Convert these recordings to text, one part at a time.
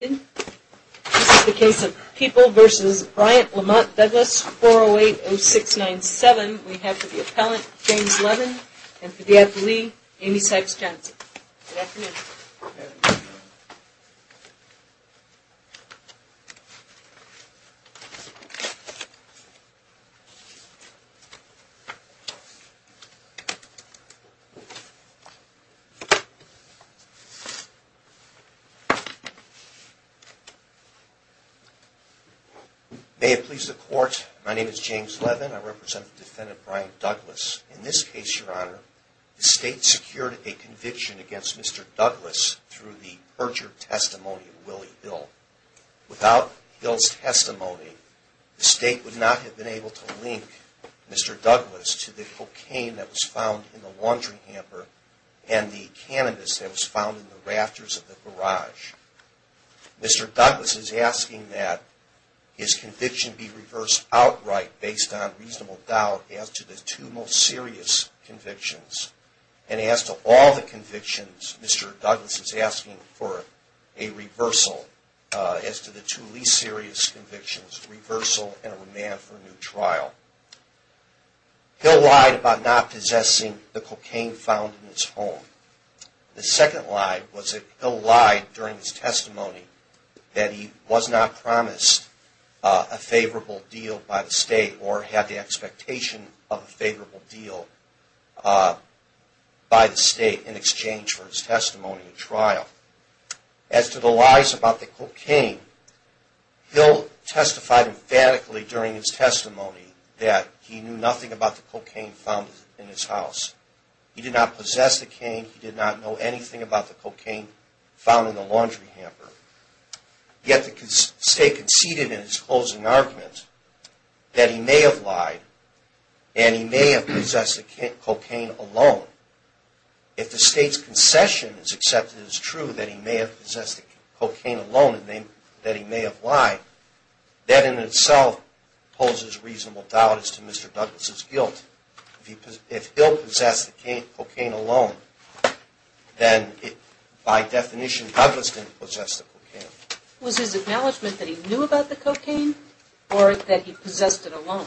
This is the case of People v. Bryant-Lamont-Douglas, 4080697. We have for the appellant, James Levin, and for the athlete, Amy Sykes-Johnson. Good afternoon. May it please the Court, my name is James Levin. I represent the defendant, Bryant-Douglas. In this case, Your Honor, the State secured a conviction against Mr. Douglas through the perjured testimony of Willie Hill. Without Hill's testimony, the State would not have been able to link Mr. Douglas to the cocaine that was found in the laundry hamper and the cannabis that was found in the rafters of the garage. Mr. Douglas is asking that his conviction be reversed outright based on reasonable doubt as to the two most serious convictions. And as to all the convictions, Mr. Douglas is asking for a reversal as to the two least serious convictions, reversal and a remand for a new trial. Hill lied about not possessing the cocaine found in his home. The second lie was that Hill lied during his testimony that he was not promised a favorable deal by the State or had the expectation of a favorable deal by the State in exchange for his testimony in trial. As to the lies about the cocaine, Hill testified emphatically during his testimony that he knew nothing about the cocaine found in his house. He did not possess the cocaine. He did not know anything about the cocaine found in the laundry hamper. Yet the State conceded in its closing argument that he may have lied and he may have possessed the cocaine alone. If the State's concession is accepted as true that he may have possessed the cocaine alone and that he may have lied, that in itself poses reasonable doubt as to Mr. Douglas' guilt. If Hill possessed the cocaine alone, then by definition, Douglas didn't possess the cocaine. Was his acknowledgment that he knew about the cocaine or that he possessed it alone?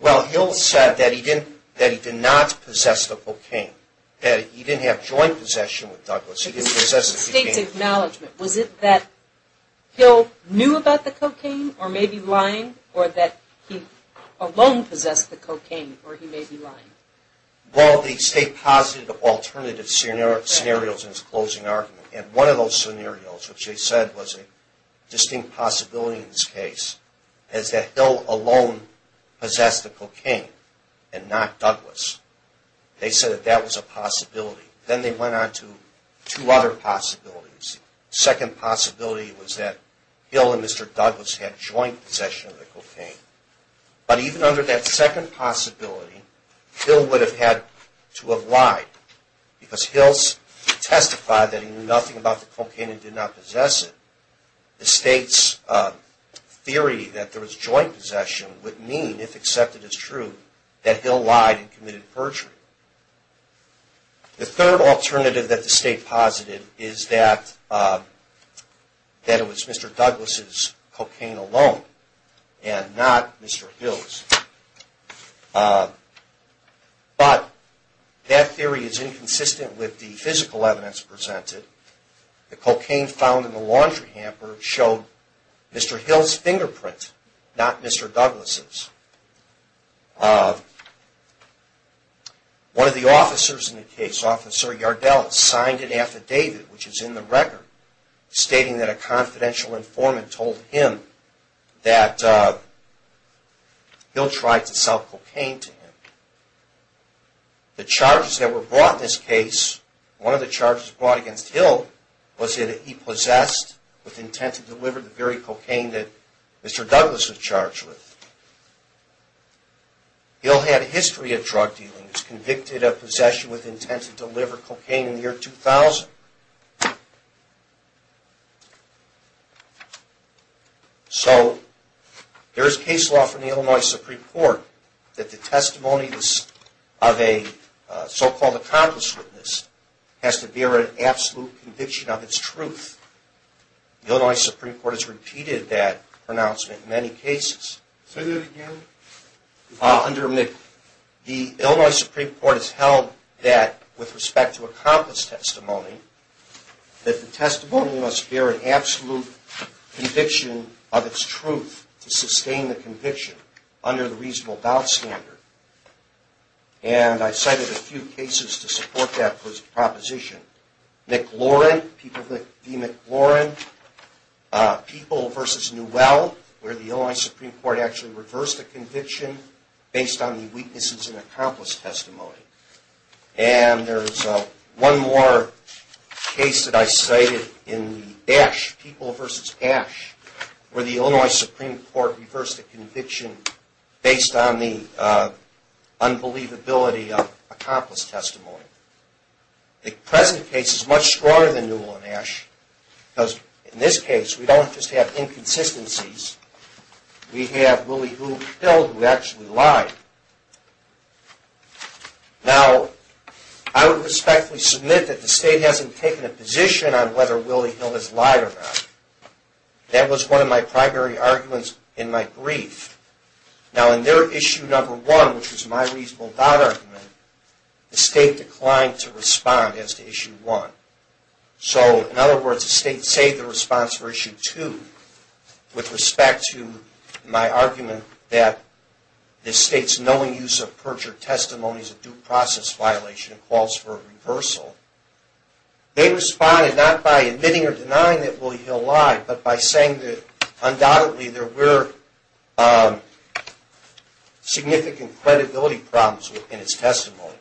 Well, Hill said that he did not possess the cocaine. That he didn't have joint possession with Douglas. He didn't possess the cocaine. Was it the State's acknowledgment? Was it that Hill knew about the cocaine or may be lying or that he alone possessed the cocaine or he may be lying? Well, the State posited alternative scenarios in its closing argument and one of those scenarios, which they said was a distinct possibility in this case, is that Hill alone possessed the cocaine and not Douglas. They said that that was a possibility. Then they went on to two other possibilities. The second possibility was that Hill and Mr. Douglas had joint possession of the cocaine. But even under that second possibility, Hill would have had to have lied because Hill testified that he knew nothing about the cocaine and did not possess it. The State's theory that there was joint possession would mean, if accepted as true, that Hill lied and committed perjury. The third alternative that the State posited is that it was Mr. Douglas' cocaine alone and not Mr. Hill's. But that theory is inconsistent with the physical evidence presented. The cocaine found in the laundry hamper showed Mr. Hill's fingerprint, not Mr. Douglas'. One of the officers in the case, Officer Yardell, signed an affidavit, which is in the record, stating that a confidential informant told him that Hill tried to sell cocaine to him. The charges that were brought in this case, one of the charges brought against Hill, was that he possessed with intent to deliver the very cocaine that Mr. Douglas was charged with. Hill had a history of drug dealing. He was convicted of possession with intent to deliver cocaine in the year 2000. So, there is case law from the Illinois Supreme Court that the testimony of a so-called accomplice witness has to bear an absolute conviction of its truth. The Illinois Supreme Court has repeated that pronouncement in many cases. The Illinois Supreme Court has held that with respect to accomplice testimony, that the testimony must bear an absolute conviction of its truth to sustain the conviction under the reasonable doubt standard. And I cited a few cases to support that proposition. McLaurin, people v. McLaurin. People v. Newell, where the Illinois Supreme Court actually reversed the conviction based on the weaknesses in accomplice testimony. And there is one more case that I cited in the Ash, people v. Ash, where the Illinois Supreme Court reversed the conviction based on the unbelievability of accomplice testimony. The present case is much stronger than Newell and Ash, because in this case, we don't just have inconsistencies. We have Willie Hill, who actually lied. Now, I would respectfully submit that the state hasn't taken a position on whether Willie Hill has lied or not. That was one of my primary arguments in my brief. Now, in their issue number one, which was my reasonable doubt argument, the state declined to respond as to issue one. So, in other words, the state saved the response for issue two with respect to my argument that the state's knowing use of perjured testimony is a due process violation and calls for a reversal. They responded not by admitting or denying that Willie Hill lied, but by saying that, undoubtedly, there were significant credibility problems in his testimony.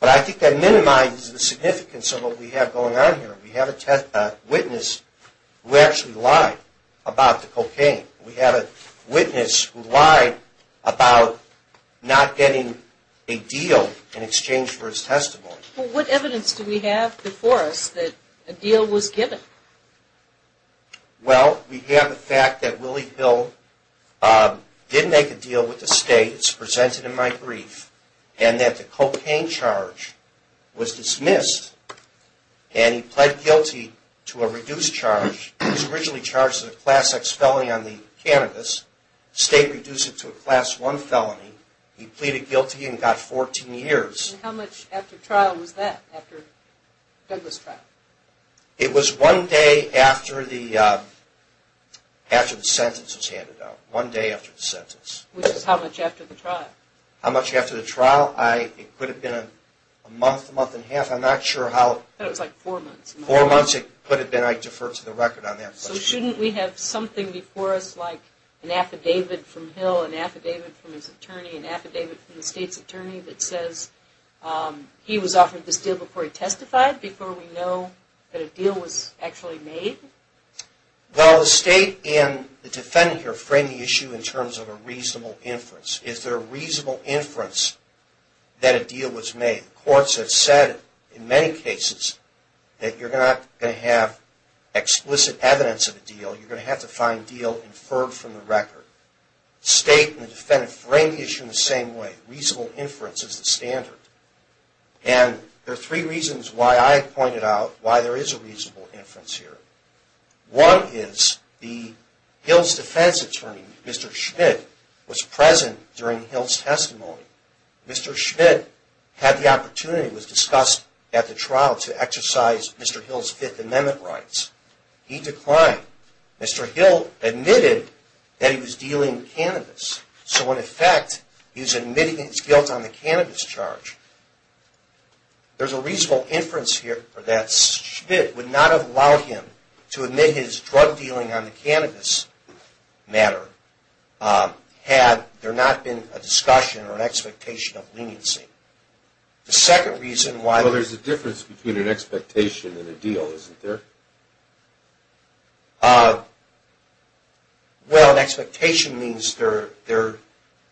But I think that minimizes the significance of what we have going on here. We have a witness who actually lied about the cocaine. We have a witness who lied about not getting a deal in exchange for his testimony. Well, what evidence do we have before us that a deal was given? Well, we have the fact that Willie Hill did make a deal with the state. It's presented in my brief. And that the cocaine charge was dismissed. And he pled guilty to a reduced charge. He was originally charged with a Class X felony on the cannabis. The state reduced it to a Class I felony. He pleaded guilty and got 14 years. And how much after trial was that, after Douglas' trial? It was one day after the sentence was handed out. One day after the sentence. Which is how much after the trial? How much after the trial? It could have been a month, a month and a half. I'm not sure how... I thought it was like four months. Four months it could have been. I defer to the record on that question. So shouldn't we have something before us, like an affidavit from Hill, an affidavit from his attorney, an affidavit from the state's attorney, that says he was offered this deal before he testified? Before we know that a deal was actually made? Well, the state and the defendant here frame the issue in terms of a reasonable inference. Is there a reasonable inference that a deal was made? Courts have said in many cases that you're not going to have explicit evidence of a deal. You're going to have to find a deal inferred from the record. The state and the defendant frame the issue in the same way. Reasonable inference is the standard. And there are three reasons why I pointed out why there is a reasonable inference here. One is the Hill's defense attorney, Mr. Schmidt, was present during Hill's testimony. Mr. Schmidt had the opportunity, it was discussed at the trial, to exercise Mr. Hill's Fifth Amendment rights. He declined. Mr. Hill admitted that he was dealing cannabis. So in effect, he was admitting that he was guilt on the cannabis charge. There's a reasonable inference here that Schmidt would not have allowed him to admit his drug dealing on the cannabis matter had there not been a discussion or an expectation of leniency. The second reason why... Well, there's a difference between an expectation and a deal, isn't there? Well, an expectation means there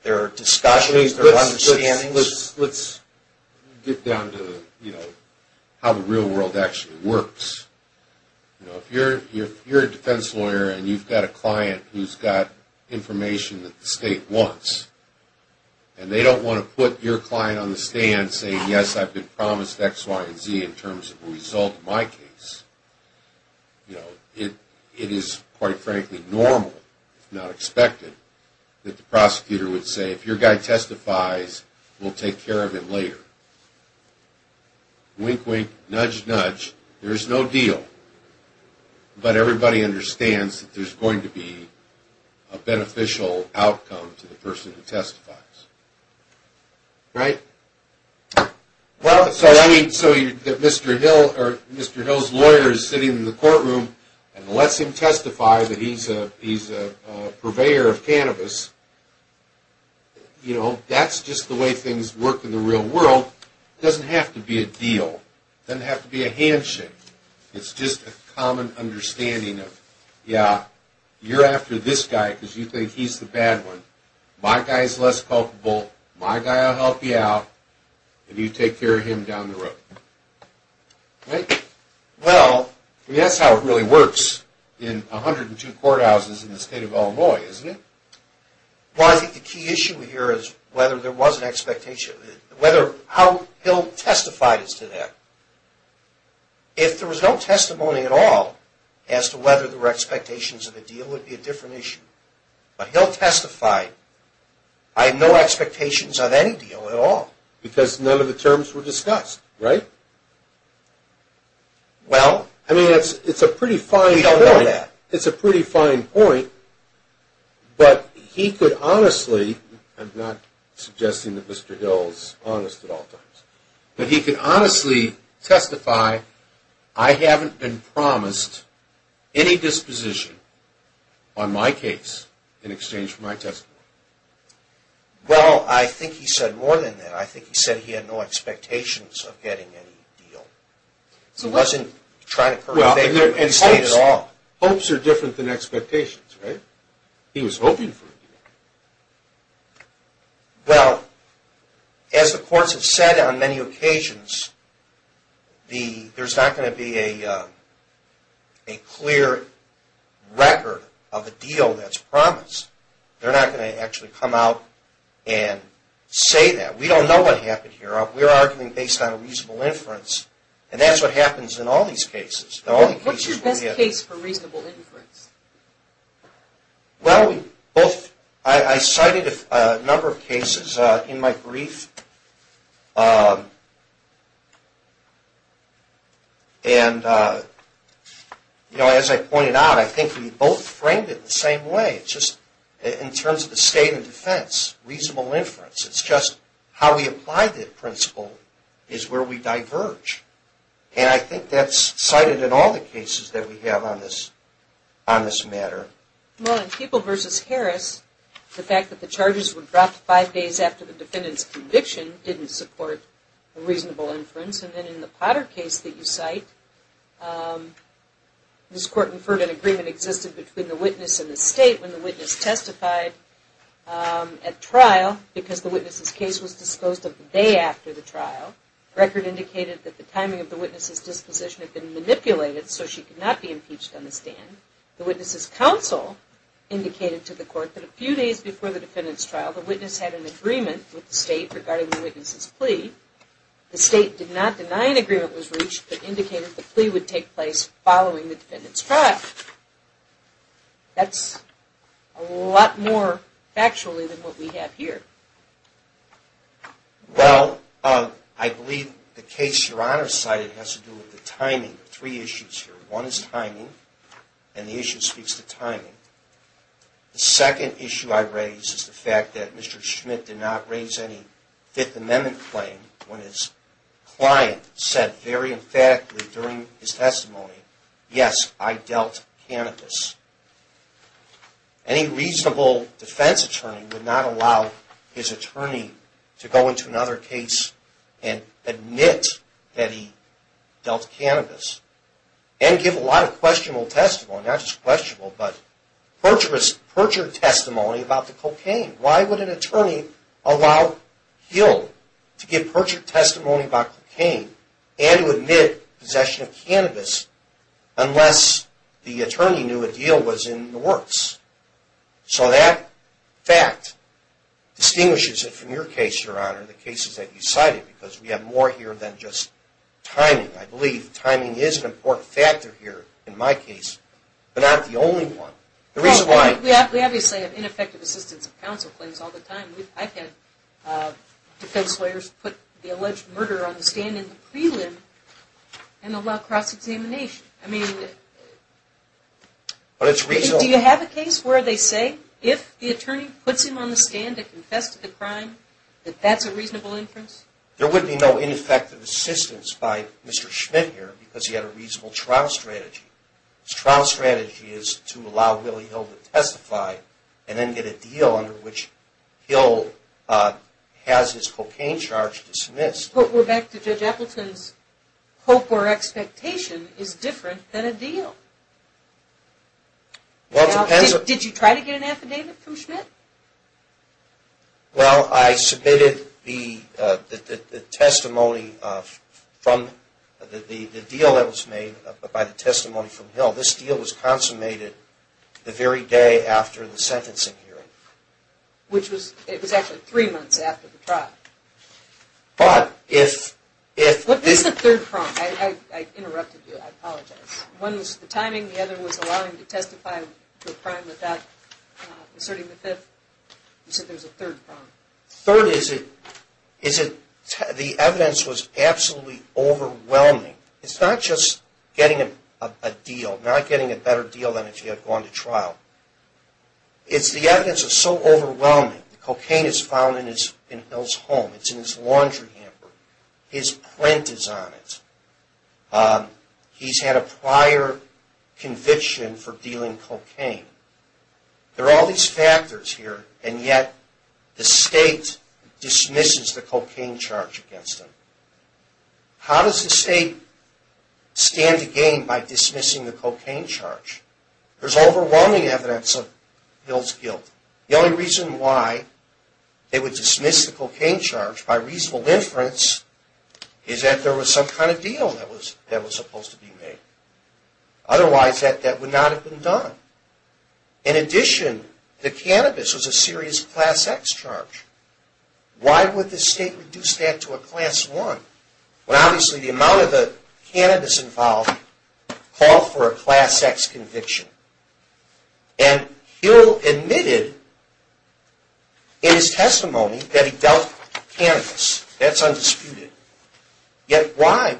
are discussions, there are understandings. Let's get down to how the real world actually works. If you're a defense lawyer and you've got a client who's got information that the state wants, and they don't want to put your client on the stand saying, yes, I've been promised X, Y, and Z in terms of the result of my case, it is, quite frankly, normal, if not expected, that the prosecutor would say, if your guy testifies, we'll take care of him later. Wink, wink, nudge, nudge, there's no deal. But everybody understands that there's going to be a beneficial outcome to the person who testifies. Right? Well, so Mr. Hill's lawyer is sitting in the courtroom and lets him testify that he's a purveyor of cannabis. That's just the way things work in the real world. It doesn't have to be a deal. It doesn't have to be a handshake. It's just a common understanding of, yeah, you're after this guy because you think he's the bad one. My guy's less culpable. My guy will help you out. And you take care of him down the road. Right? Well, I mean, that's how it really works in 102 courthouses in the state of Illinois, isn't it? Well, I think the key issue here is whether there was an expectation. How Hill testified is to that. If there was no testimony at all as to whether there were expectations of a deal, it would be a different issue. But Hill testified, I have no expectations of any deal at all. Because none of the terms were discussed, right? Well, we don't know that. I mean, it's a pretty fine point, but he could honestly, I'm not suggesting that Mr. Hill's honest at all times, but he could honestly testify, I haven't been promised any disposition on my case in exchange for my testimony. Well, I think he said more than that. I think he said he had no expectations of getting any deal. He wasn't trying to curtail the state at all. Well, hopes are different than expectations, right? He was hoping for a deal. Well, as the courts have said on many occasions, there's not going to be a clear record of a deal that's promised. They're not going to actually come out and say that. We don't know what happened here. We're arguing based on a reasonable inference, and that's what happens in all these cases. What's your best case for reasonable inference? Well, I cited a number of cases in my brief, and as I pointed out, I think we both framed it the same way, just in terms of the state and defense, reasonable inference. It's just how we apply the principle is where we diverge, and I think that's cited in all the cases that we have on this matter. Well, in People v. Harris, the fact that the charges were dropped five days after the defendant's conviction didn't support a reasonable inference, and then in the Potter case that you cite, this court inferred an agreement existed between the witness and the state when the witness testified at trial because the witness's case was disclosed the day after the trial. The record indicated that the timing of the witness's disposition had been manipulated so she could not be impeached on the stand. The witness's counsel indicated to the court that a few days before the defendant's trial, the witness had an agreement with the state regarding the witness's plea. The state did not deny an agreement was reached, but indicated the plea would take place following the defendant's trial. That's a lot more factually than what we have here. Well, I believe the case Your Honor cited has to do with the timing of three issues here. One is timing, and the issue speaks to timing. The second issue I raise is the fact that Mr. Schmidt did not raise any Fifth Amendment claim when his client said very emphatically during his testimony, yes, I dealt cannabis. Any reasonable defense attorney would not allow his attorney to go into another case and admit that he dealt cannabis, and give a lot of questionable testimony, not just questionable, but perjured testimony about the cocaine. Why would an attorney allow him to give perjured testimony about cocaine and to admit possession of cannabis unless the attorney knew a deal was in the works? So that fact distinguishes it from your case, Your Honor, the cases that you cited, because we have more here than just timing. I believe timing is an important factor here in my case, but not the only one. We obviously have ineffective assistance of counsel claims all the time. I've had defense lawyers put the alleged murderer on the stand in the prelim and allow cross-examination. Do you have a case where they say if the attorney puts him on the stand to confess to the crime, that that's a reasonable inference? There would be no ineffective assistance by Mr. Schmidt here because he had a reasonable trial strategy. His trial strategy is to allow Willie Hill to testify and then get a deal under which Hill has his cocaine charge dismissed. But, Rebecca, Judge Appleton's hope or expectation is different than a deal. Did you try to get an affidavit from Schmidt? Well, I submitted the testimony from the deal that was made by the testimony from Hill. This deal was consummated the very day after the sentencing hearing. Which was, it was actually three months after the trial. But if... Look, this is the third prong. I interrupted you. I apologize. One was the timing, the other was allowing him to testify to a crime without asserting the fifth. You said there's a third prong. Third is that the evidence was absolutely overwhelming. It's not just getting a deal, not getting a better deal than if you had gone to trial. It's the evidence that's so overwhelming. The cocaine is found in Hill's home. It's in his laundry hamper. His print is on it. He's had a prior conviction for dealing cocaine. There are all these factors here and yet the state dismisses the cocaine charge against him. How does the state stand to gain by dismissing the cocaine charge? There's overwhelming evidence of Hill's guilt. The only reason why they would dismiss the cocaine charge by reasonable inference is that there was some kind of deal that was supposed to be made. Otherwise, that would not have been done. In addition, the cannabis was a serious Class X charge. Why would the state reduce that to a Class I? Obviously, the amount of the cannabis involved called for a Class X conviction. And Hill admitted in his testimony that he dealt with cannabis. That's undisputed. Yet why?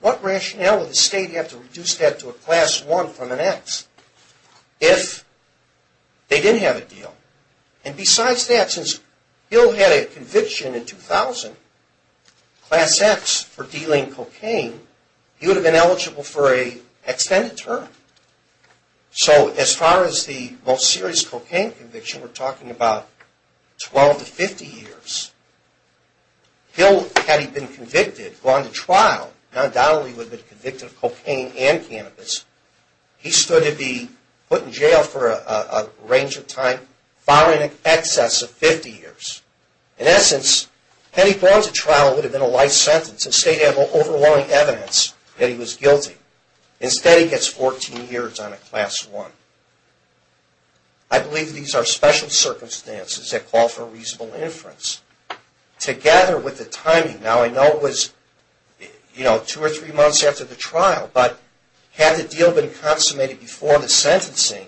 What rationale would the state have to reduce that to a Class I from an X if they didn't have a deal? And besides that, since Hill had a conviction in 2000, Class X for dealing cocaine, he would have been eligible for an extended term. So as far as the most serious cocaine conviction, we're talking about 12 to 50 years. Hill, had he been convicted, gone to trial, undoubtedly would have been convicted of cocaine and cannabis. He stood to be put in jail for a range of time far in excess of 50 years. In essence, had he gone to trial, it would have been a life sentence. The state had overwhelming evidence that he was guilty. Instead, he gets 14 years on a Class I. I believe these are special circumstances that call for reasonable inference. Together with the timing, now I know it was two or three months after the trial, but had the deal been consummated before the sentencing,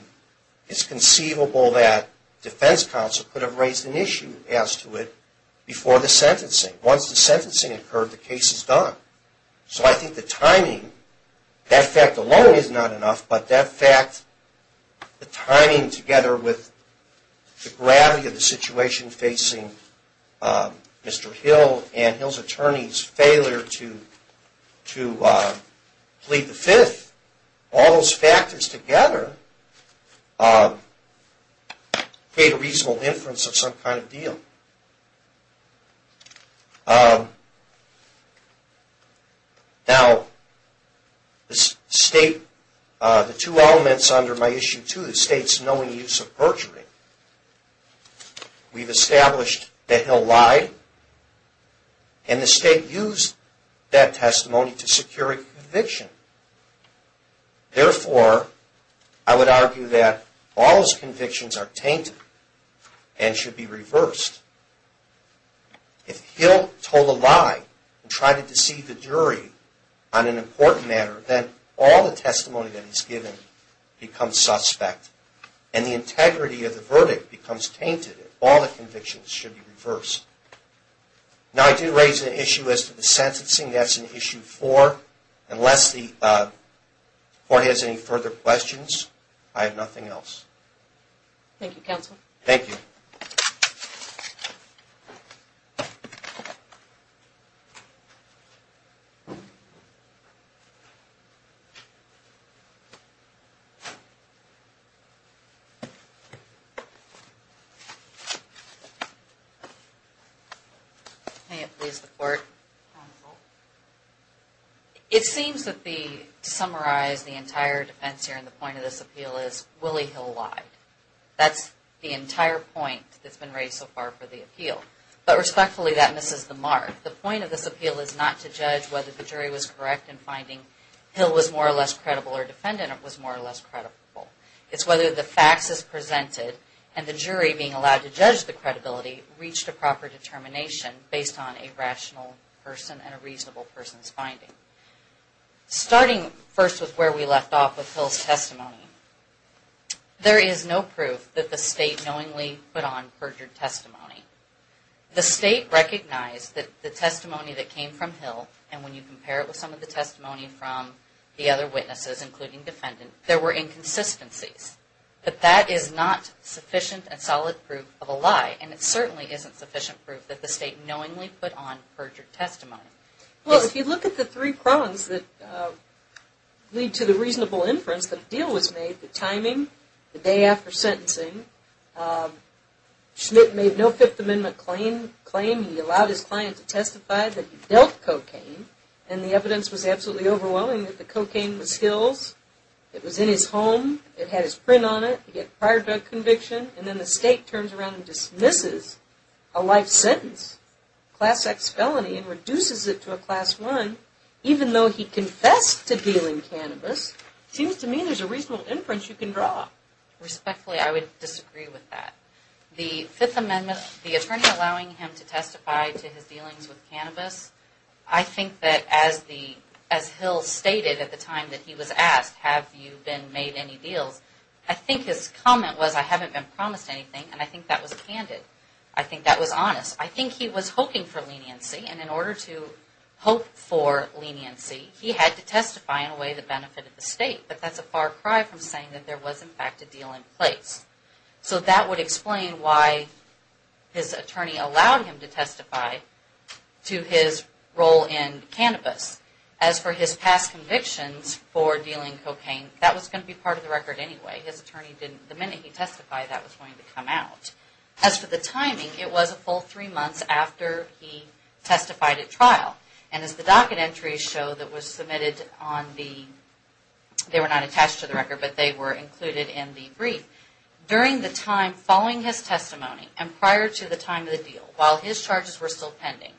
it's conceivable that defense counsel could have raised an issue as to it before the sentencing. Once the sentencing occurred, the case is done. So I think the timing, that fact alone is not enough, but that fact, the timing together with the gravity of the situation facing Mr. Hill and Hill's attorney's failure to plead the Fifth, all those factors together create a reasonable inference of some kind of deal. Now, the two elements under my Issue 2, the state's knowing use of perjury, we've established that Hill lied, and the state used that testimony to secure a conviction. Therefore, I would argue that all his convictions are tainted and should be reversed. If Hill told a lie and tried to deceive the jury on an important matter, then all the testimony that he's given becomes suspect, and the integrity of the verdict becomes tainted. All the convictions should be reversed. Now, I did raise an issue as to the sentencing. That's in Issue 4. Unless the court has any further questions, I have nothing else. Thank you, counsel. Thank you. Thank you. May it please the court. Counsel. It seems that to summarize the entire defense here and the point of this appeal is Willie Hill lied. That's the entire point that's been raised so far for the appeal. But respectfully, that misses the mark. The point of this appeal is not to judge whether the jury was correct in finding Hill was more or less credible or defendant was more or less credible. It's whether the facts as presented and the jury being allowed to judge the credibility reached a proper determination based on a rational person and a reasonable person's finding. Starting first with where we left off with Hill's testimony, there is no proof that the state knowingly put on perjured testimony. The state recognized that the testimony that came from Hill, and when you compare it with some of the testimony from the other witnesses, including defendant, there were inconsistencies. But that is not sufficient and solid proof of a lie, and it certainly isn't sufficient proof that the state knowingly put on perjured testimony. Well, if you look at the three prongs that lead to the reasonable inference that the deal was made, the timing, the day after sentencing. Schmidt made no Fifth Amendment claim. He allowed his client to testify that he dealt cocaine, and the evidence was absolutely overwhelming that the cocaine was Hill's. It was in his home. It had his print on it. He had prior drug conviction. And then the state turns around and dismisses a life sentence, class X felony, and reduces it to a class I, even though he confessed to dealing cannabis. Seems to me there's a reasonable inference you can draw. Respectfully, I would disagree with that. The Fifth Amendment, the attorney allowing him to testify to his dealings with cannabis, I think that as Hill stated at the time that he was asked, have you been made any deals, I think his comment was, I haven't been promised anything, and I think that was candid. I think that was honest. I think he was hoping for leniency, and in order to hope for leniency, he had to testify in a way that benefited the state. But that's a far cry from saying that there was, in fact, a deal in place. So that would explain why his attorney allowed him to testify to his role in cannabis. As for his past convictions for dealing cocaine, that was going to be part of the record anyway. The minute he testified, that was going to come out. As for the timing, it was a full three months after he testified at trial. And as the docket entries show that was submitted on the, they were not attached to the record, but they were included in the brief. During the time following his testimony, and prior to the time of the deal, while his charges were still pending,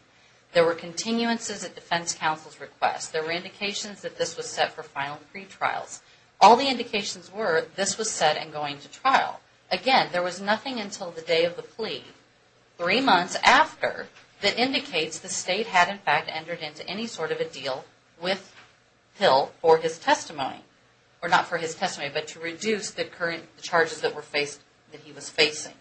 there were continuances at defense counsel's request. There were indications that this was set for final pretrials. All the indications were this was set and going to trial. Again, there was nothing until the day of the plea, three months after, that indicates the state had, in fact, entered into any sort of a deal with Hill for his testimony. Or not for his testimony, but to reduce the current charges that he was facing.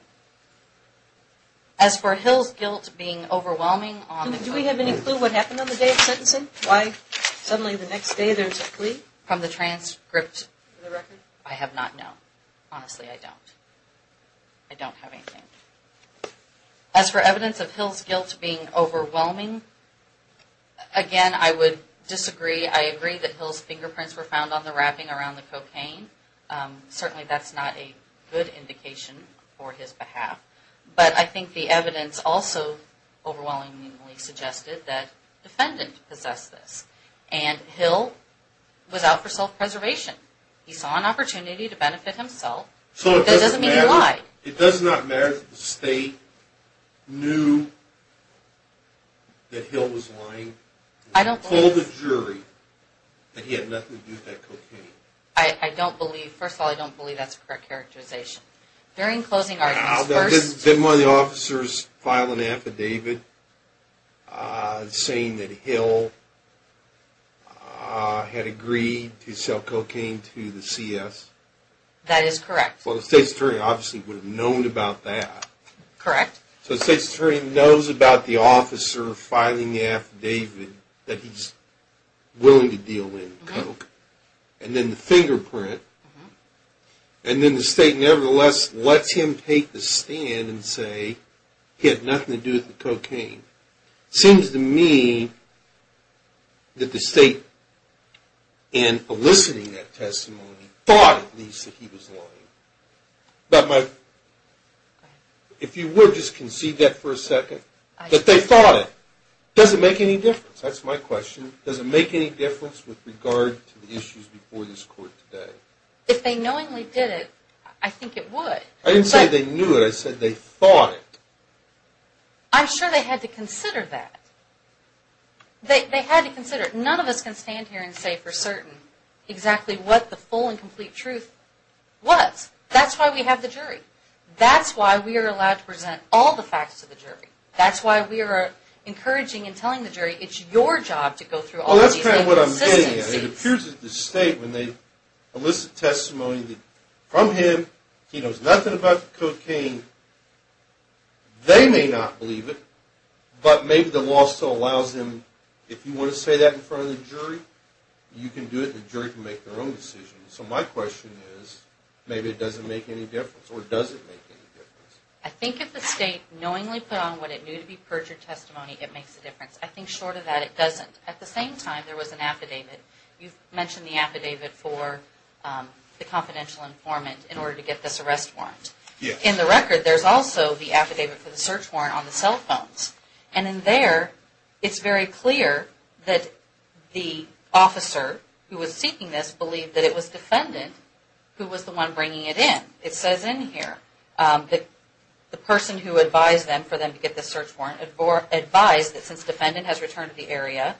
As for Hill's guilt being overwhelming on the... Do we have any clue what happened on the day of sentencing? Why suddenly the next day there's a plea? From the transcript? I have not known. Honestly, I don't. I don't have anything. As for evidence of Hill's guilt being overwhelming, again, I would disagree. I agree that Hill's fingerprints were found on the wrapping around the cocaine. Certainly that's not a good indication for his behalf. But I think the evidence also overwhelmingly suggested that the defendant possessed this. And Hill was out for self-preservation. He saw an opportunity to benefit himself. So it doesn't mean he lied. It does not matter that the state knew that Hill was lying? I don't believe so. Or told the jury that he had nothing to do with that cocaine? I don't believe. First of all, I don't believe that's a correct characterization. During closing arguments, first... That is correct. Well, the state's attorney obviously would have known about that. Correct. So the state's attorney knows about the officer filing the affidavit that he's willing to deal with coke. And then the fingerprint. And then the state nevertheless lets him take the stand and say he had nothing to do with the cocaine. It seems to me that the state, in eliciting that testimony, thought at least that he was lying. But my... If you would just concede that for a second. That they thought it. Does it make any difference? That's my question. Does it make any difference with regard to the issues before this court today? If they knowingly did it, I think it would. I didn't say they knew it. I said they thought it. I'm sure they had to consider that. They had to consider it. None of us can stand here and say for certain exactly what the full and complete truth was. That's why we have the jury. That's why we are allowed to present all the facts to the jury. That's why we are encouraging and telling the jury it's your job to go through all these inconsistencies. Well, that's kind of what I'm getting at. It appears that the state, when they elicit testimony from him, he knows nothing about the cocaine. They may not believe it. But maybe the law still allows them. If you want to say that in front of the jury, you can do it and the jury can make their own decision. So my question is, maybe it doesn't make any difference. Or does it make any difference? I think if the state knowingly put on what it knew to be perjured testimony, it makes a difference. I think short of that, it doesn't. At the same time, there was an affidavit. You mentioned the affidavit for the confidential informant in order to get this arrest warrant. In the record, there's also the affidavit for the search warrant on the cell phones. And in there, it's very clear that the officer who was seeking this believed that it was defendant who was the one bringing it in. It says in here that the person who advised them for them to get this search warrant or advised that since defendant has returned to the area,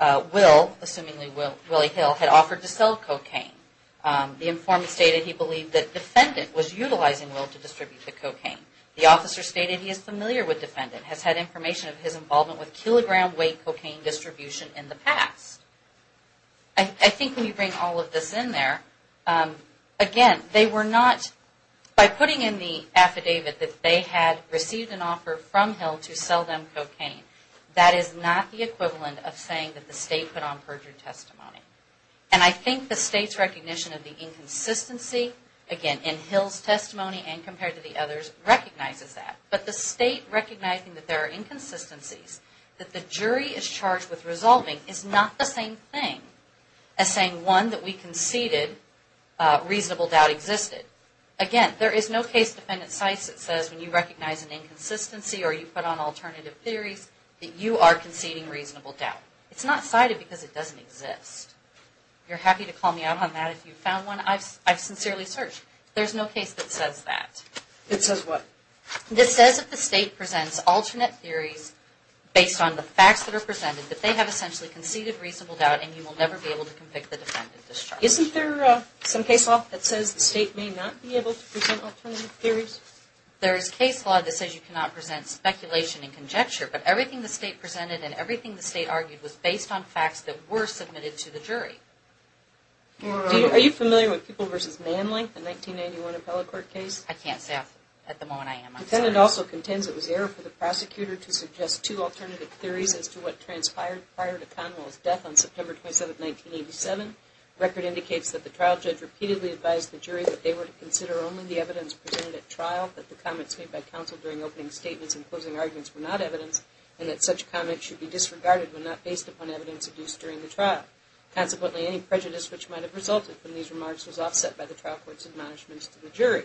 Will, assumingly Willie Hill, had offered to sell cocaine. The informant stated he believed that defendant was utilizing Will to distribute the cocaine. The officer stated he is familiar with defendant, has had information of his involvement with kilogram weight cocaine distribution in the past. I think when you bring all of this in there, again, they were not, by putting in the affidavit that they had received an offer from Hill to sell them cocaine. That is not the equivalent of saying that the state put on perjured testimony. And I think the state's recognition of the inconsistency, again, in Hill's testimony and compared to the others, recognizes that. But the state recognizing that there are inconsistencies, that the jury is charged with resolving, is not the same thing as saying, one, that we conceded reasonable doubt existed. Again, there is no case defendant cites that says when you recognize an inconsistency or you put on alternative theories that you are conceding reasonable doubt. It's not cited because it doesn't exist. You're happy to call me out on that if you've found one. I've sincerely searched. There's no case that says that. It says what? It says that the state presents alternate theories based on the facts that are presented that they have essentially conceded reasonable doubt and you will never be able to convict the defendant of this charge. Isn't there some case law that says the state may not be able to present alternative theories? There is case law that says you cannot present speculation and conjecture. But everything the state presented and everything the state argued was based on facts that were submitted to the jury. Are you familiar with People v. Manling, the 1991 appellate court case? I can't say at the moment I am. The defendant also contends it was error for the prosecutor to suggest two alternative theories as to what transpired prior to Conwell's death on September 27, 1987. The record indicates that the trial judge repeatedly advised the jury that they were to consider only the evidence presented at trial, that the comments made by counsel during opening statements and closing arguments were not evidence, and that such comments should be disregarded when not based upon evidence produced during the trial. Consequently, any prejudice which might have resulted from these remarks was offset by the trial court's admonishments to the jury.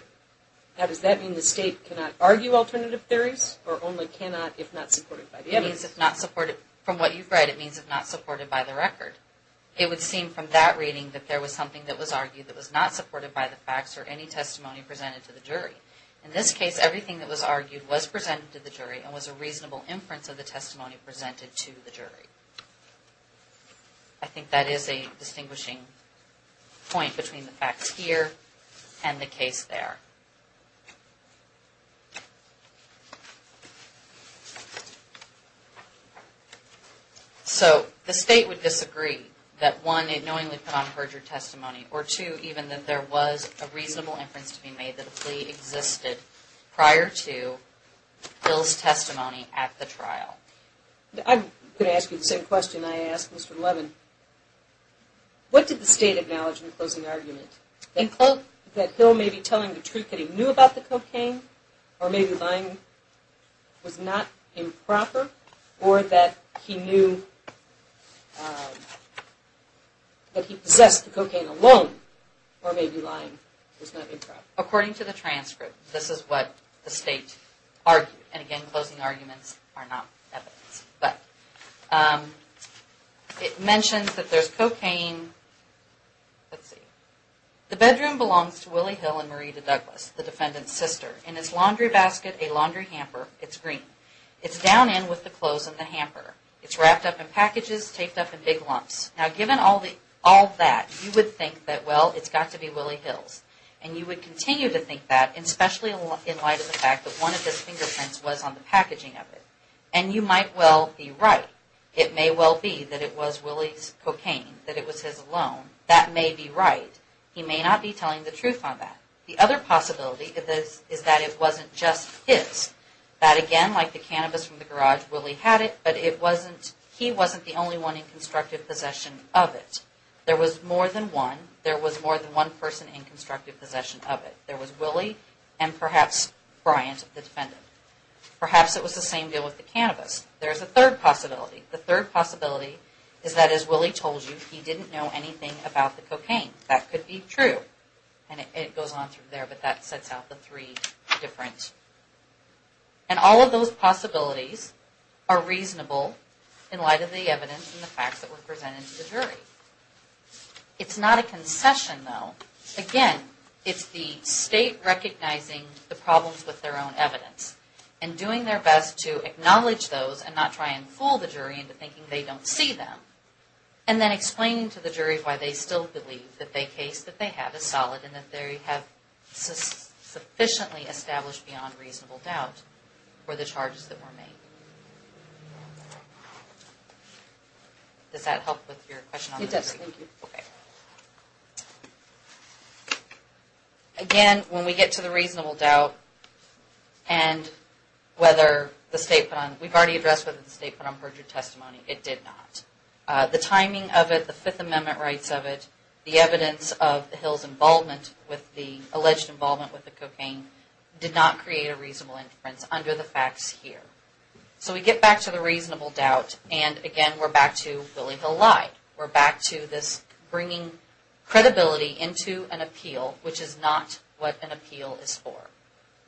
Now, does that mean the state cannot argue alternative theories or only cannot if not supported by the evidence? From what you've read, it means if not supported by the record. It would seem from that reading that there was something that was argued that was not supported by the facts or any testimony presented to the jury. In this case, everything that was argued was presented to the jury and was a reasonable inference of the testimony presented to the jury. I think that is a distinguishing point between the facts here and the case there. So, the state would disagree that, one, it knowingly put on purge your testimony, or, two, even that there was a reasonable inference to be made that a plea existed prior to Hill's testimony at the trial. I'm going to ask you the same question I asked Mr. Levin. What did the state acknowledge in the closing argument? That Hill may be telling the truth, that he knew about the trial, that he possessed the cocaine, or maybe lying was not improper, or that he possessed the cocaine alone, or maybe lying was not improper? According to the transcript, this is what the state argued. And, again, closing arguments are not evidence. It mentions that there's cocaine. Let's see. The bedroom belongs to Willie Hill and Marita Douglas, the defendant's sister. In its laundry basket, a laundry hamper. It's green. It's down in with the clothes and the hamper. It's wrapped up in packages, taped up in big lumps. Now, given all that, you would think that, well, it's got to be Willie Hill's. And you would continue to think that, especially in light of the fact that one of his fingerprints was on the packaging of it. And you might well be right. It may well be that it was Willie's cocaine, that it was his alone. That may be right. He may not be telling the truth on that. The other possibility is that it wasn't just his. That, again, like the cannabis from the garage, Willie had it, but he wasn't the only one in constructive possession of it. There was more than one. There was more than one person in constructive possession of it. There was Willie and perhaps Bryant, the defendant. Perhaps it was the same deal with the cannabis. There's a third possibility. The third possibility is that, as Willie told you, he didn't know anything about the cocaine. That could be true. And it goes on through there, but that sets out the three different. And all of those possibilities are reasonable in light of the evidence and the facts that were presented to the jury. It's not a concession, though. Again, it's the state recognizing the problems with their own evidence and doing their best to acknowledge those and not try and fool the jury into thinking they don't see them and then explaining to the jury why they still believe that the case that they have is solid and that they have sufficiently established beyond reasonable doubt for the charges that were made. Does that help with your question on the jury? It does. Thank you. Okay. Again, when we get to the reasonable doubt and whether the state put on, we've already addressed whether the state put on perjury testimony. It did not. The timing of it, the Fifth Amendment rights of it, the evidence of Hill's involvement with the, alleged involvement with the cocaine, did not create a reasonable inference under the facts here. So we get back to the reasonable doubt and, again, we're back to Willie Hill lied. We're back to this bringing credibility into an appeal, which is not what an appeal is for.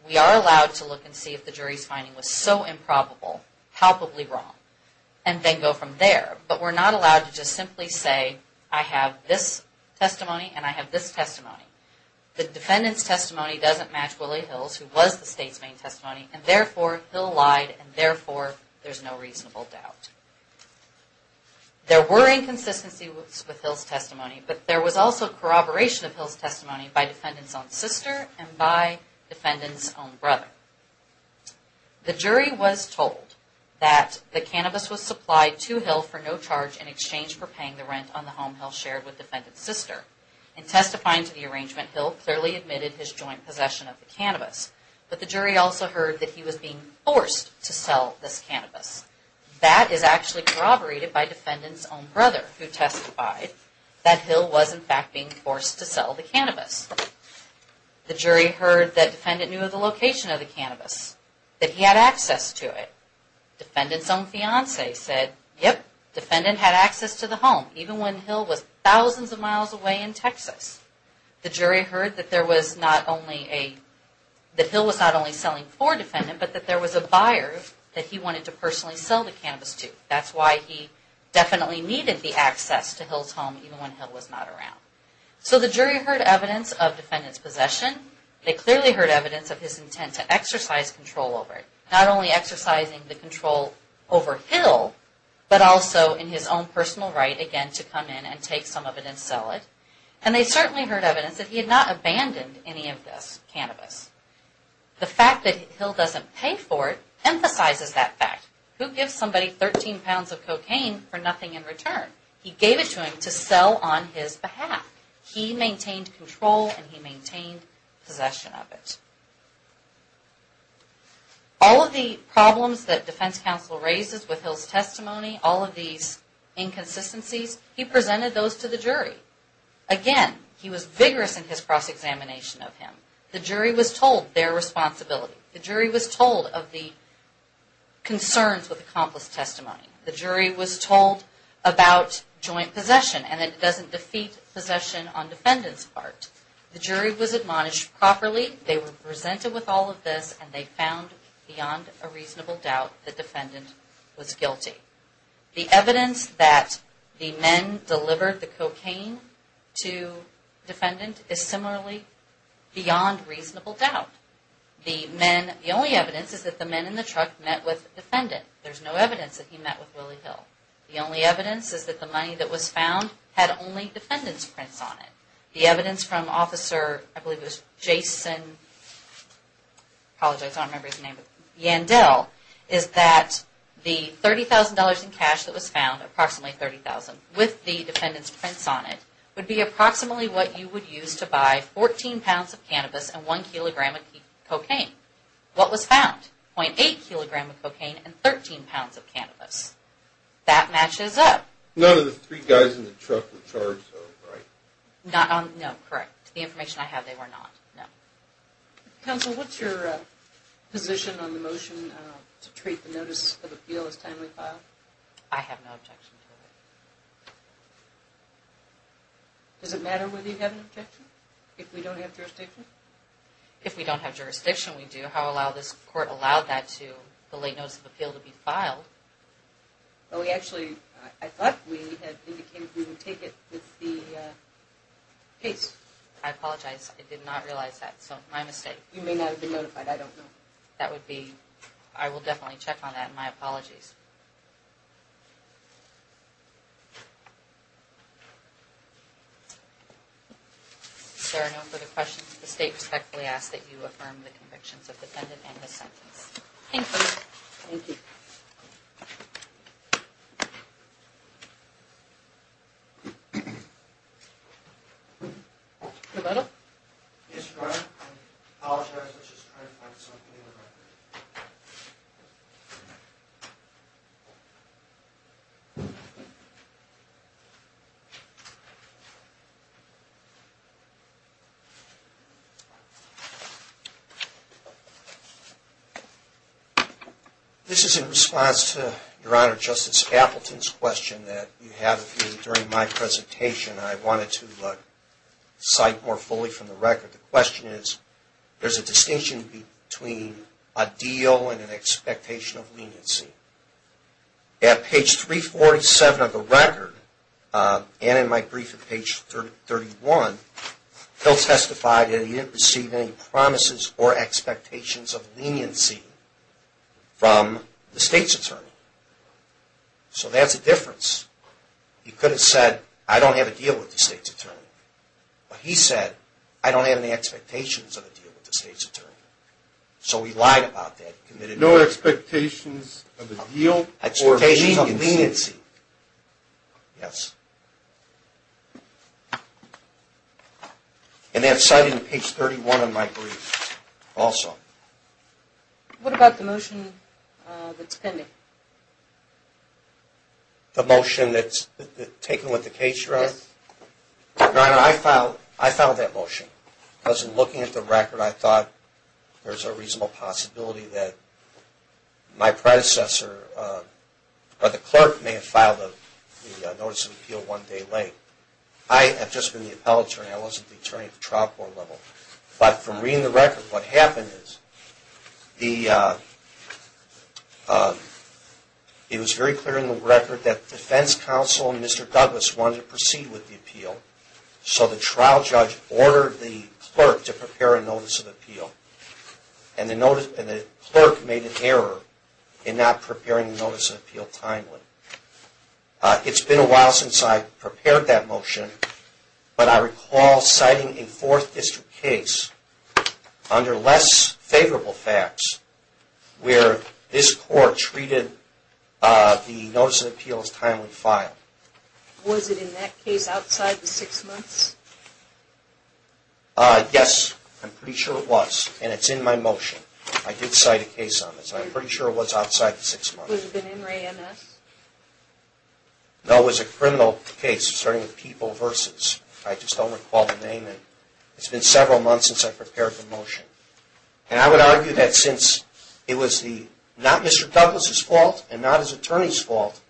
We are allowed to look and see if the jury's finding was so improbable, palpably wrong, and then go from there. But we're not allowed to just simply say, I have this testimony and I have this testimony. The defendant's testimony doesn't match Willie Hill's, who was the state's main testimony, and, therefore, Hill lied and, therefore, there's no reasonable doubt. There were inconsistencies with Hill's testimony, but there was also corroboration of Hill's testimony by defendant's own sister and by defendant's own brother. The jury was told that the cannabis was supplied to Hill for no charge in exchange for paying the rent on the home Hill shared with defendant's sister. In testifying to the arrangement, Hill clearly admitted his joint possession of the cannabis, but the jury also heard that he was being forced to sell this cannabis. That is actually corroborated by defendant's own brother, who testified that Hill was, in fact, being forced to sell the cannabis. The jury heard that defendant knew of the location of the cannabis, that he had access to it. Defendant's own fiance said, yep, defendant had access to the home, even when Hill was thousands of miles away in Texas. The jury heard that Hill was not only selling for defendant, but that there was a buyer that he wanted to personally sell the cannabis to. That's why he definitely needed the access to Hill's home, even when Hill was not around. So the jury heard evidence of defendant's possession. They clearly heard evidence of his intent to exercise control over it. Not only exercising the control over Hill, but also in his own personal right, again, to come in and take some of it and sell it. And they certainly heard evidence that he had not abandoned any of this cannabis. The fact that Hill doesn't pay for it emphasizes that fact. Who gives somebody 13 pounds of cocaine for nothing in return? He gave it to him to sell on his behalf. He maintained control and he maintained possession of it. All of the problems that defense counsel raises with Hill's testimony, all of these inconsistencies, he presented those to the jury. Again, he was vigorous in his cross-examination of him. The jury was told their responsibility. The jury was told of the concerns with accomplice testimony. The jury was told about joint possession and that it doesn't defeat possession on defendant's part. The jury was admonished properly. They were presented with all of this and they found, beyond a reasonable doubt, that defendant was guilty. The evidence that the men delivered the cocaine to defendant is similarly beyond reasonable doubt. The only evidence is that the men in the truck met with defendant. There's no evidence that he met with Willie Hill. The only evidence is that the money that was found had only defendant's prints on it. The evidence from officer, I believe it was Jason, I apologize, I don't remember his name, Yandel, is that the $30,000 in cash that was found, approximately $30,000, with the defendant's prints on it, would be approximately what you would use to buy 14 pounds of cannabis and 1 kilogram of cocaine. What was found? 0.8 kilogram of cocaine and 13 pounds of cannabis. That matches up. None of the three guys in the truck were charged though, right? No, correct. The information I have, they were not. No. Counsel, what's your position on the motion to treat the notice of appeal as timely file? I have no objection to it. Does it matter whether you have an objection? If we don't have jurisdiction? If we don't have jurisdiction, we do. This court allowed that to, the late notice of appeal, to be filed. We actually, I thought we had indicated we would take it with the case. I apologize, I did not realize that, so my mistake. You may not have been notified, I don't know. That would be, I will definitely check on that and my apologies. Is there no further questions? The state respectfully asks that you affirm the convictions of the defendant and his sentence. Thank you. Thank you. Thank you. Your Honor? Yes, Your Honor. I apologize, I was just trying to find something in the record. This is in response to Your Honor, Justice Appleton's question that you had during my presentation. I wanted to cite more fully from the record. The question is, there's a distinction between a deal and an expectation of leniency. At page 347 of the record, and in my brief at page 31, he'll testify that he didn't receive any promises or expectations of leniency from the state's attorney. So that's a difference. He could have said, I don't have a deal with the state's attorney. But he said, I don't have any expectations of a deal with the state's attorney. So he lied about that. No expectations of a deal. Expectations of leniency. Yes. And that's cited in page 31 of my brief also. What about the motion that's pending? The motion that's taken with the case, Your Honor? Your Honor, I filed that motion because in looking at the record, I thought there's a reasonable possibility that my predecessor, or the clerk, may have filed a notice of appeal one day late. I have just been the appellate attorney. I wasn't the attorney at the trial court level. But from reading the record, what happened is it was very clear in the record that defense counsel and Mr. Douglas wanted to proceed with the appeal. So the trial judge ordered the clerk to prepare a notice of appeal. And the clerk made an error in not preparing the notice of appeal timely. It's been a while since I prepared that motion. But I recall citing a Fourth District case under less favorable facts where this court treated the notice of appeal as timely file. Was it in that case outside the six months? Yes, I'm pretty sure it was. And it's in my motion. I did cite a case on this. I'm pretty sure it was outside the six months. Was it an NRA MS? No, it was a criminal case starting with People v. I just don't recall the name. It's been several months since I prepared the motion. And I would argue that since it was not Mr. Douglas' fault and not his attorney's fault,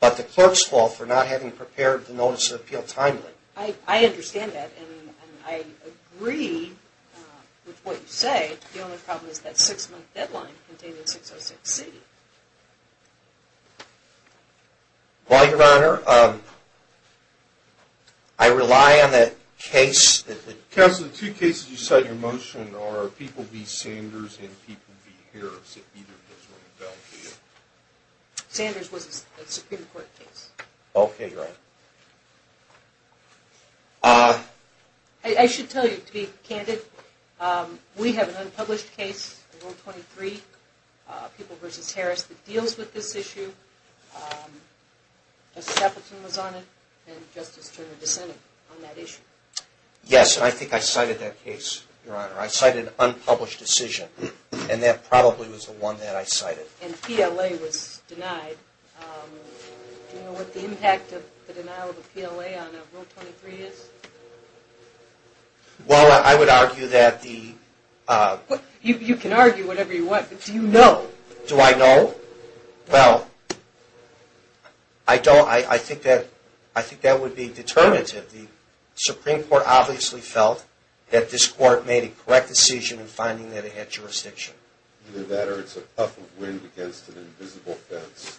but the clerk's fault for not having prepared the notice of appeal timely. I understand that. And I agree with what you say. The only problem is that six-month deadline contained in 606C. Well, Your Honor, I rely on that case. Counsel, the two cases you cite in your motion are People v. Sanders and People v. Harris, if either of those were invalidated. Sanders was a Supreme Court case. Okay, Your Honor. I should tell you, to be candid, we have an unpublished case, Rule 23, People v. Harris, that deals with this issue. Justice Appleton was on it, and Justice Turner dissented on that issue. Yes, and I think I cited that case, Your Honor. I cited an unpublished decision, and that probably was the one that I cited. And PLA was denied. Do you know what the impact of the denial of a PLA on Rule 23 is? Well, I would argue that the... You can argue whatever you want, but do you know? Do I know? Well, I don't. I think that would be determinative. The Supreme Court obviously felt that this Court made a correct decision in finding that it had jurisdiction. Either that or it's a puff of wind against an invisible fence.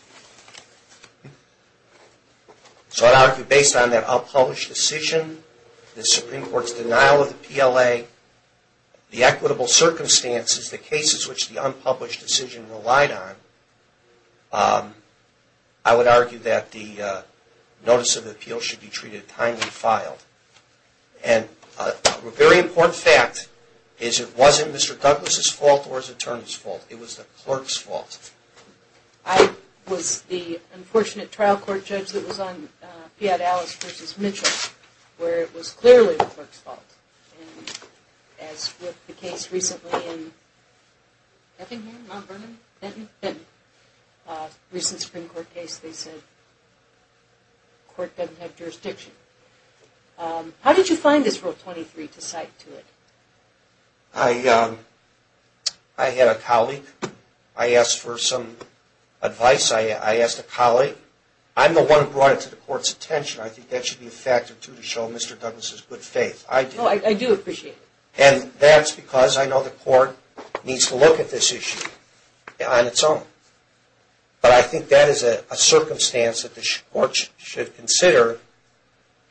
So I'd argue, based on that unpublished decision, the Supreme Court's denial of the PLA, the equitable circumstances, the cases which the unpublished decision relied on, I would argue that the notice of appeal should be treated timely and filed. And a very important fact is it wasn't Mr. Douglas' fault or his attorney's fault. It was the clerk's fault. I was the unfortunate trial court judge that was on Fiat Alice v. Mitchell, where it was clearly the clerk's fault. As with the case recently in Effingham, Mount Vernon, Benton, recent Supreme Court case, they said the Court doesn't have jurisdiction. How did you find this Rule 23 to cite to it? I had a colleague. I asked for some advice. I asked a colleague. I'm the one who brought it to the Court's attention. I think that should be a factor, too, to show Mr. Douglas' good faith. No, I do appreciate it. And that's because I know the Court needs to look at this issue on its own. But I think that is a circumstance that the Court should consider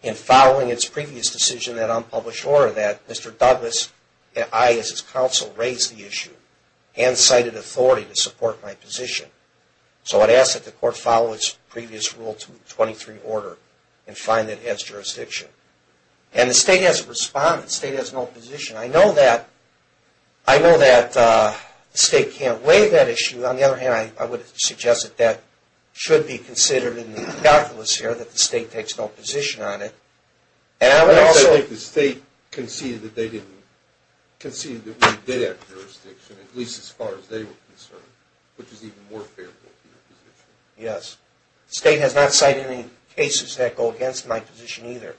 in following its previous decision, that unpublished order, that Mr. Douglas and I as its counsel raised the issue and cited authority to support my position. So I'd ask that the Court follow its previous Rule 23 order and find that it has jurisdiction. And the State hasn't responded. The State has no position. I know that the State can't weigh that issue. On the other hand, I would suggest that that should be considered in Mr. Douglas' here, that the State takes no position on it. And I would also think the State conceded that we did have jurisdiction, at least as far as they were concerned, which is even more favorable for your position. Yes. The State has not cited any cases that go against my position either,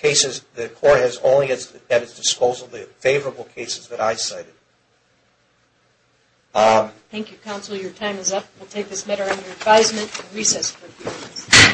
cases that the Court has only at its disposal the favorable cases that I cited. Thank you, Counsel. Your time is up. We'll take this matter under advisement and recess for a few minutes.